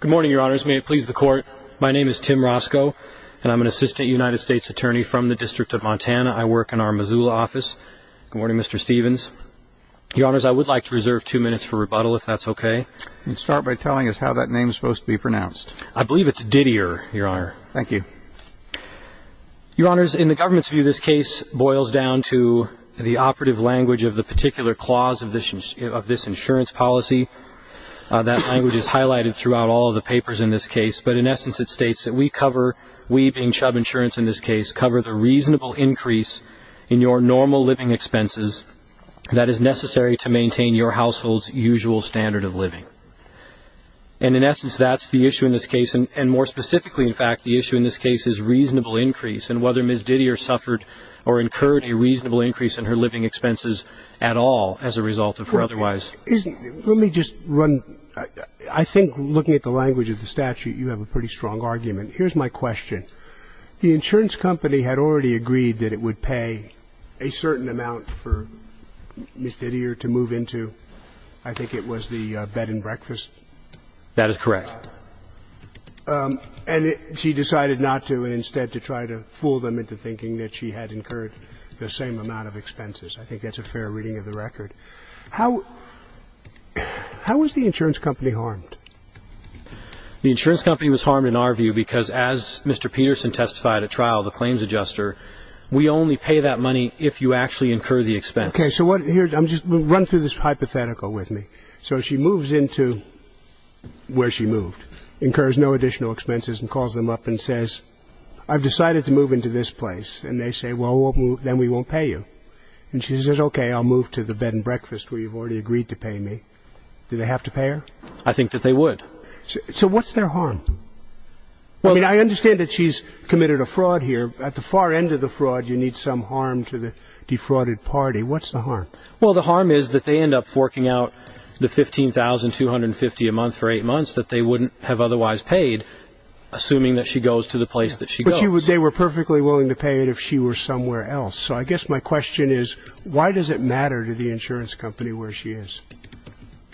Good morning, your honors. May it please the court. My name is Tim Roscoe, and I'm an assistant United States attorney from the District of Montana. I work in our Missoula office. Good morning, Mr. Stevens. Your honors, I would like to reserve two minutes for rebuttal, if that's okay. You can start by telling us how that name is supposed to be pronounced. I believe it's Didier, your honor. Thank you. Your honors, in the government's view, this case boils down to the operative language of the particular clause of this insurance policy. That language is highlighted throughout all of the papers in this case, but in essence it states that we cover, we being Chubb Insurance in this case, cover the reasonable increase in your normal living expenses that is necessary to maintain your household's usual standard of living. And in essence that's the issue in this case, and more specifically, in fact, the issue in this case is reasonable increase and whether Miss Didier suffered or incurred a reasonable increase in her living expenses at all as a result of her otherwise. Let me just run, I think looking at the language of the statute, you have a pretty strong argument. Here's my question. The insurance company had already agreed that it would pay a certain amount for Miss Didier to move into. I think it was the bed and breakfast. That is correct. And she decided not to and instead to try to fool them into thinking that she had incurred the same amount of expenses. I think that's a fair reading of the record. How was the insurance company harmed? The insurance company was harmed in our view because as Mr. Peterson testified at trial, the claims adjuster, we only pay that money if you actually incur the expense. Okay. So here, run through this hypothetical with me. So she moves into where she moved, incurs no additional expenses and calls them up and says, I've decided to move into this place. And they say, well, then we won't pay you. And she says, okay, I'll move to the bed and breakfast where you've already agreed to pay me. Do they have to pay her? I think that they would. So what's their harm? I mean, I understand that she's committed a fraud here. At the far end of the fraud, you need some harm to the defrauded party. What's the harm? Well, the harm is that they end up forking out the $15,250 a month for eight months that they wouldn't have otherwise paid, assuming that she goes to the place that she goes. But they were perfectly willing to pay it if she were somewhere else. So I guess my question is, why does it matter to the insurance company where she is?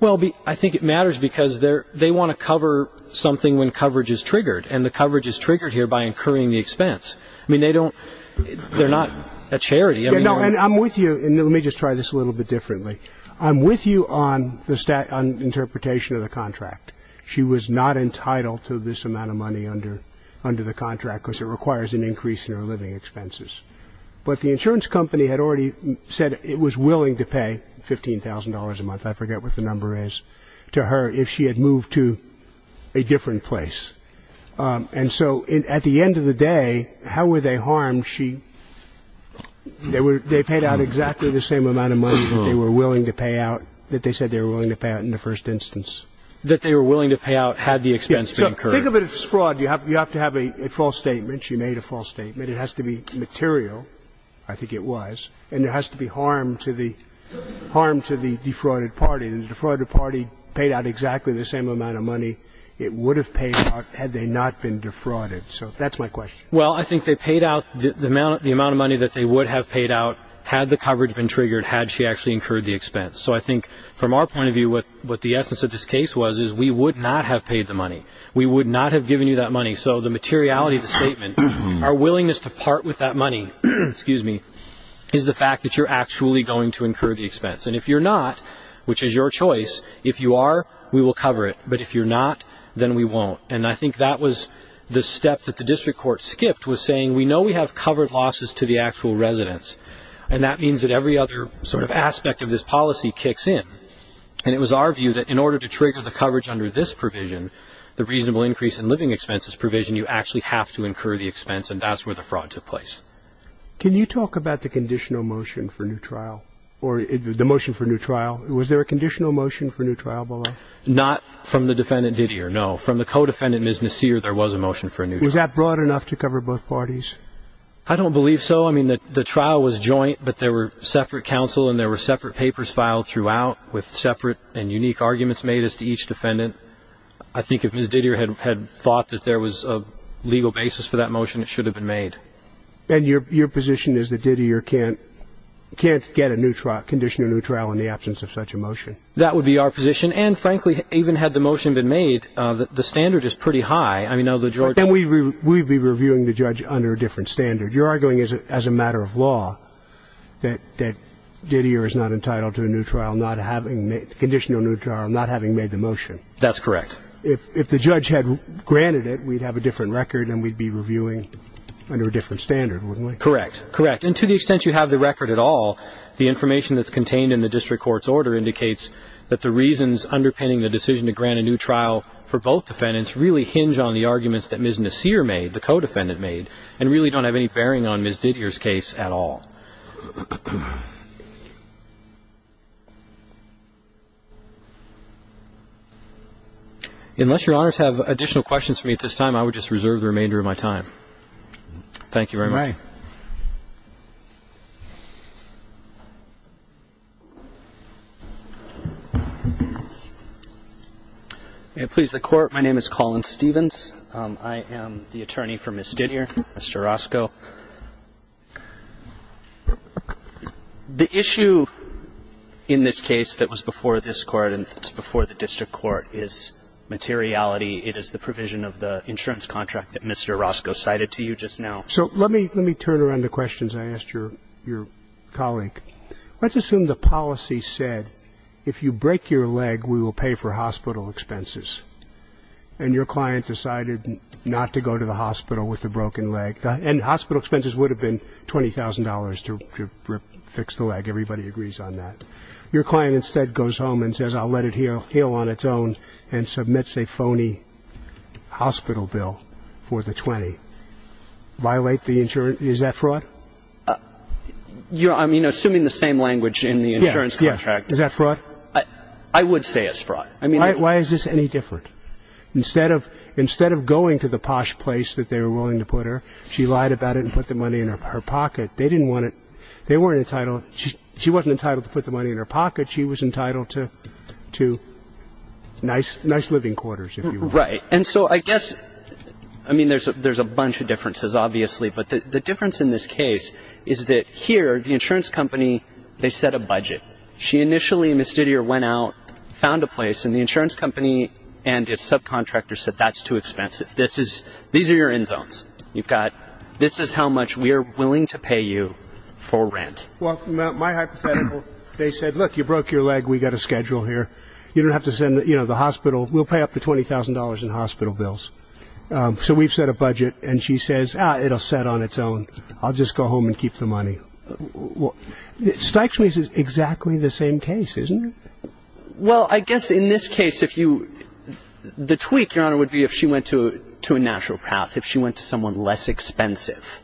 Well, I think it matters because they want to cover something when coverage is triggered, and the coverage is triggered here by incurring the expense. I mean, they don't ‑‑ they're not a charity. And I'm with you. And let me just try this a little bit differently. I'm with you on the interpretation of the contract. She was not entitled to this amount of money under the contract because it requires an increase in her living expenses. But the insurance company had already said it was willing to pay $15,000 a month. I forget what the number is, to her if she had moved to a different place. And so at the end of the day, how were they harmed? They paid out exactly the same amount of money that they were willing to pay out, that they said they were willing to pay out in the first instance. That they were willing to pay out had the expense been incurred. Think of it as fraud. You have to have a false statement. She made a false statement. It has to be material. I think it was. And there has to be harm to the ‑‑ harm to the defrauded party. The defrauded party paid out exactly the same amount of money it would have paid out had they not been defrauded. So that's my question. Well, I think they paid out the amount of money that they would have paid out had the coverage been triggered, had she actually incurred the expense. So I think from our point of view what the essence of this case was is we would not have paid the money. We would not have given you that money. So the materiality of the statement, our willingness to part with that money, excuse me, is the fact that you're actually going to incur the expense. And if you're not, which is your choice, if you are, we will cover it. But if you're not, then we won't. And I think that was the step that the district court skipped was saying we know we have covered losses to the actual residents, and that means that every other sort of aspect of this policy kicks in. And it was our view that in order to trigger the coverage under this provision, the reasonable increase in living expenses provision, you actually have to incur the expense, and that's where the fraud took place. Can you talk about the conditional motion for new trial or the motion for new trial? Was there a conditional motion for new trial below? Not from the defendant Didier, no. From the co-defendant, Ms. Nasir, there was a motion for a new trial. Was that broad enough to cover both parties? I don't believe so. I mean, the trial was joint, but there were separate counsel and there were separate papers filed throughout with separate and unique arguments made as to each defendant. I think if Ms. Didier had thought that there was a legal basis for that motion, it should have been made. And your position is that Didier can't get a new trial, conditional new trial, in the absence of such a motion? That would be our position. And, frankly, even had the motion been made, the standard is pretty high. I mean, now the judge – Then we'd be reviewing the judge under a different standard. You're arguing as a matter of law that Didier is not entitled to a new trial, not having – That's correct. If the judge had granted it, we'd have a different record and we'd be reviewing under a different standard, wouldn't we? Correct, correct. And to the extent you have the record at all, the information that's contained in the district court's order indicates that the reasons underpinning the decision to grant a new trial for both defendants really hinge on the arguments that Ms. Nasir made, the co-defendant made, and really don't have any bearing on Ms. Didier's case at all. Unless Your Honors have additional questions for me at this time, I would just reserve the remainder of my time. Thank you very much. All right. May it please the Court. My name is Colin Stevens. I am the attorney for Ms. Didier, Mr. Roscoe. The issue in this case that was before this Court and that's before the district court is materiality. It is the provision of the insurance contract that Mr. Roscoe cited to you just now. So let me turn around the questions I asked your colleague. Let's assume the policy said if you break your leg, we will pay for hospital expenses, and your client decided not to go to the hospital with a broken leg. And hospital expenses would have been $20,000 to fix the leg. Everybody agrees on that. Your client instead goes home and says, I'll let it heal on its own and submits a phony hospital bill for the 20. Is that fraud? I'm assuming the same language in the insurance contract. Yes. Is that fraud? I would say it's fraud. Why is this any different? I mean, the difference in this case is that here, the insurance company, they set a budget. She initially, Ms. Didier, went out, found a place, and the insurance company and her client decided to go to the posh place that they were willing to put her. She lied about it and put the money in her pocket. They didn't want it. They weren't entitled. She wasn't entitled to put the money in her pocket. She was entitled to nice living quarters, if you will. Right. And so I guess, I mean, there's a bunch of differences, obviously, but the difference in this case is that here, the insurance company, they set a budget. She initially, Ms. Didier, went out, found a place, and the insurance company and its subcontractor said that's too expensive. These are your end zones. This is how much we are willing to pay you for rent. Well, my hypothetical, they said, look, you broke your leg. We've got a schedule here. You don't have to send the hospital. We'll pay up to $20,000 in hospital bills. So we've set a budget. And she says, ah, it'll set on its own. I'll just go home and keep the money. It strikes me as exactly the same case, isn't it? Well, I guess in this case, the tweak, Your Honor, would be if she went to a natural path, if she went to someone less expensive,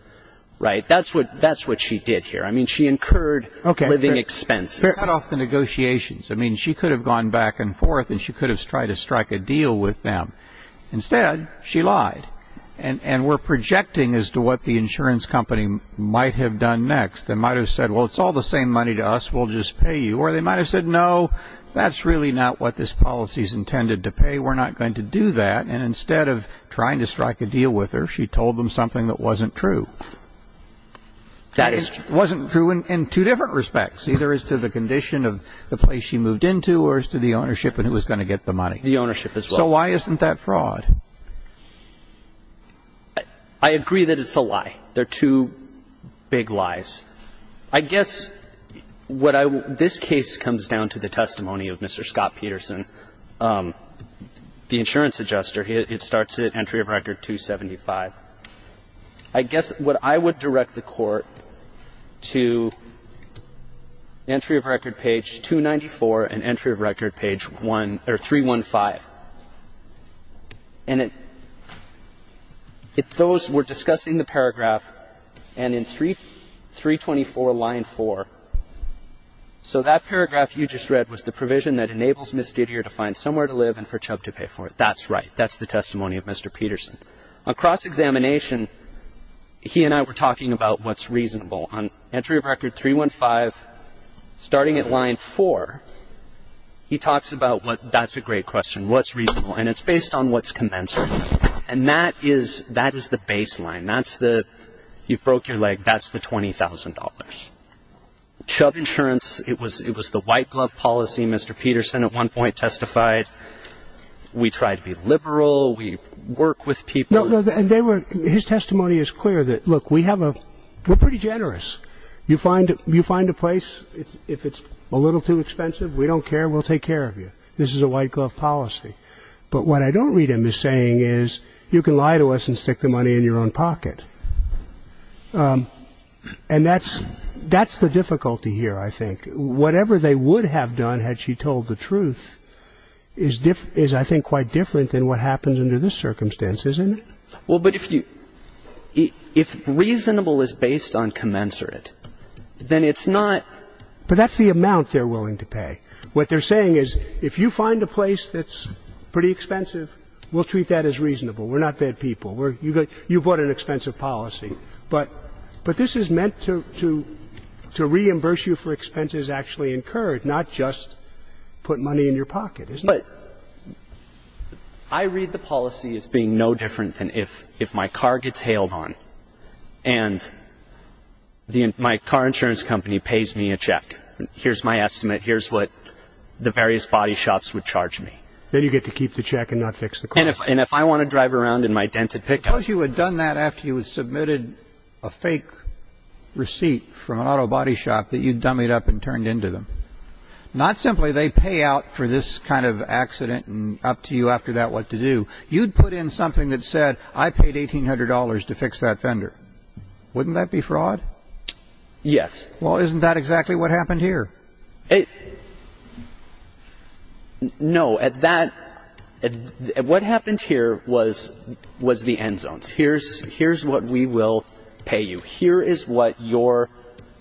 right? That's what she did here. I mean, she incurred living expenses. Okay. They're cut off the negotiations. I mean, she could have gone back and forth, and she could have tried to strike a deal with them. Instead, she lied. And we're projecting as to what the insurance company might have done next. They might have said, well, it's all the same money to us. We'll just pay you. Or they might have said, no, that's really not what this policy is intended to pay. We're not going to do that. And instead of trying to strike a deal with her, she told them something that wasn't true. That wasn't true in two different respects, either as to the condition of the place she moved into or as to the ownership and who was going to get the money. The ownership as well. So why isn't that fraud? I agree that it's a lie. They're two big lies. I guess what I would – this case comes down to the testimony of Mr. Scott Peterson, the insurance adjuster. It starts at entry of record 275. I guess what I would direct the Court to, entry of record page 294 and entry of record page 315. And it – those – we're discussing the paragraph, and in 324, line 4. So that paragraph you just read was the provision that enables Ms. Didier to find somewhere to live and for Chubb to pay for it. That's right. That's the testimony of Mr. Peterson. Across examination, he and I were talking about what's reasonable. On entry of record 315, starting at line 4, he talks about what – that's a great question. What's reasonable? And it's based on what's commensurate. And that is the baseline. That's the – you've broke your leg. That's the $20,000. Chubb Insurance, it was the white glove policy. Mr. Peterson at one point testified, we try to be liberal. We work with people. And they were – his testimony is clear that, look, we have a – we're pretty generous. You find a place, if it's a little too expensive, we don't care, we'll take care of you. This is a white glove policy. But what I don't read him as saying is you can lie to us and stick the money in your own pocket. And that's the difficulty here, I think. I think whatever they would have done had she told the truth is, I think, quite different than what happens under this circumstance, isn't it? Well, but if you – if reasonable is based on commensurate, then it's not – But that's the amount they're willing to pay. What they're saying is if you find a place that's pretty expensive, we'll treat that as reasonable. We're not bad people. You bought an expensive policy. But this is meant to reimburse you for expenses actually incurred, not just put money in your pocket, isn't it? But I read the policy as being no different than if my car gets hailed on and my car insurance company pays me a check, here's my estimate, here's what the various body shops would charge me. Then you get to keep the check and not fix the car. And if I want to drive around in my dented pickup. Suppose you had done that after you had submitted a fake receipt from an auto body shop that you'd dummied up and turned into them. Not simply they pay out for this kind of accident and up to you after that what to do. You'd put in something that said, I paid $1,800 to fix that fender. Wouldn't that be fraud? Yes. Well, isn't that exactly what happened here? No, at that, what happened here was the end zones. Here's what we will pay you. Here is what your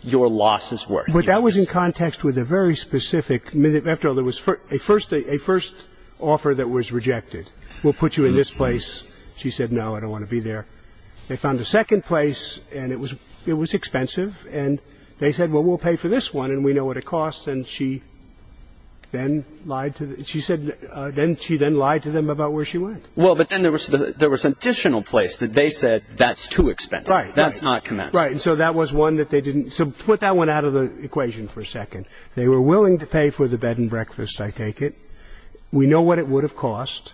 losses were. But that was in context with a very specific, after all, there was a first offer that was rejected. We'll put you in this place. She said, no, I don't want to be there. They found a second place and it was expensive. And they said, well, we'll pay for this one and we know what it costs. And she then lied to them about where she went. Well, but then there was an additional place that they said that's too expensive. That's not commensurate. Right. So that was one that they didn't. So put that one out of the equation for a second. They were willing to pay for the bed and breakfast, I take it. We know what it would have cost.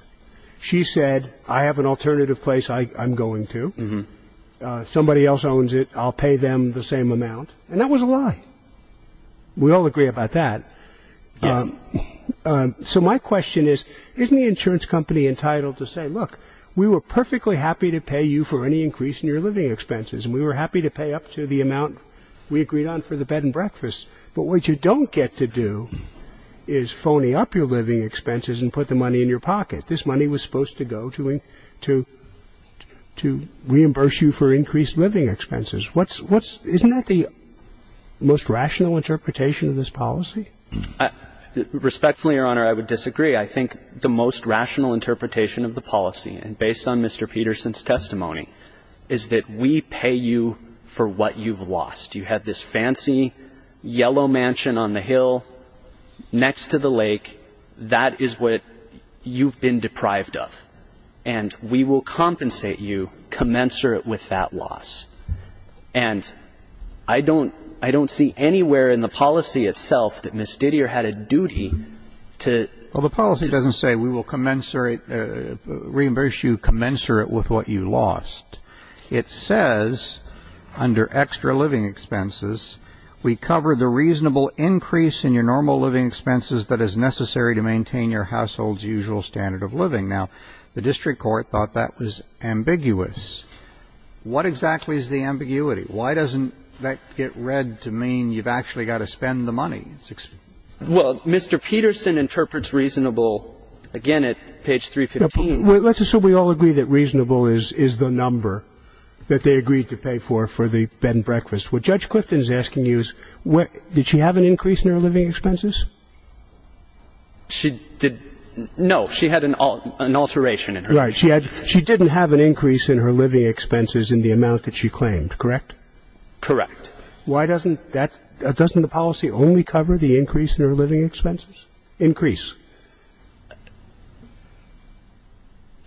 She said, I have an alternative place I'm going to. Somebody else owns it. I'll pay them the same amount. And that was a lie. We all agree about that. So my question is, isn't the insurance company entitled to say, look, we were perfectly happy to pay you for any increase in your living expenses and we were happy to pay up to the amount we agreed on for the bed and breakfast. But what you don't get to do is phony up your living expenses and put the money in your pocket. This money was supposed to go to reimburse you for increased living expenses. Isn't that the most rational interpretation of this policy? Respectfully, Your Honor, I would disagree. I think the most rational interpretation of the policy, and based on Mr. Peterson's testimony, is that we pay you for what you've lost. You have this fancy yellow mansion on the hill next to the lake. That is what you've been deprived of. And we will compensate you commensurate with that loss. And I don't see anywhere in the policy itself that Ms. Didier had a duty to ---- Well, the policy doesn't say we will reimburse you commensurate with what you lost. It says, under extra living expenses, we cover the reasonable increase in your normal living expenses that is necessary to maintain your household's usual standard of living. Now, the district court thought that was ambiguous. What exactly is the ambiguity? Why doesn't that get read to mean you've actually got to spend the money? Well, Mr. Peterson interprets reasonable, again, at page 315. Let's assume we all agree that reasonable is the number that they agreed to pay for for the bed and breakfast. What Judge Clifton is asking you is, did she have an increase in her living expenses? No. She had an alteration in her living expenses. Right. She didn't have an increase in her living expenses in the amount that she claimed, correct? Correct. Why doesn't that ---- doesn't the policy only cover the increase in her living expenses? Increase.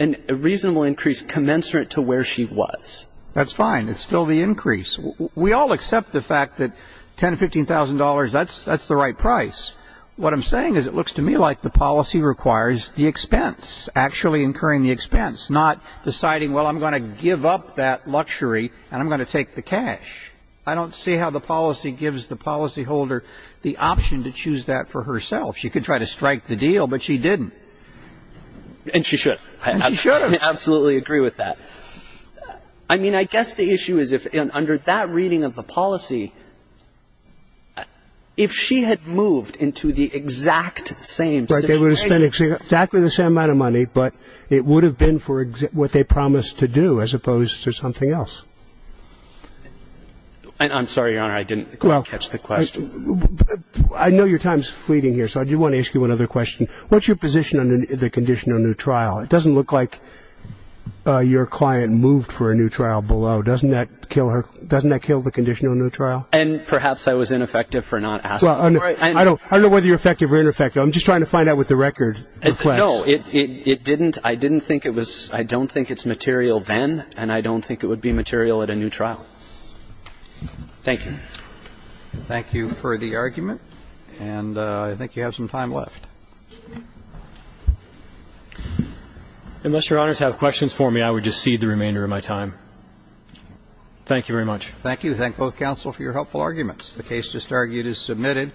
A reasonable increase commensurate to where she was. That's fine. It's still the increase. We all accept the fact that $10,000 to $15,000, that's the right price. What I'm saying is it looks to me like the policy requires the expense, actually incurring the expense, not deciding, well, I'm going to give up that luxury and I'm going to take the cash. I don't see how the policy gives the policyholder the option to choose that for herself. She could try to strike the deal, but she didn't. And she should. And she should. I absolutely agree with that. I mean, I guess the issue is if under that reading of the policy, if she had moved into the exact same situation. Right, they would have spent exactly the same amount of money, but it would have been for what they promised to do as opposed to something else. I'm sorry, Your Honor, I didn't catch the question. I know your time is fleeting here, so I do want to ask you another question. What's your position on the condition of a new trial? It doesn't look like your client moved for a new trial below. Doesn't that kill her? Doesn't that kill the condition of a new trial? And perhaps I was ineffective for not asking. I don't know whether you're effective or ineffective. I'm just trying to find out what the record reflects. No, it didn't. I didn't think it was. I don't think it's material then, and I don't think it would be material at a new trial. Thank you. Thank you for the argument, and I think you have some time left. Unless Your Honor has questions for me, I would just cede the remainder of my time. Thank you very much. Thank you. Thank both counsel for your helpful arguments. The case just argued is submitted.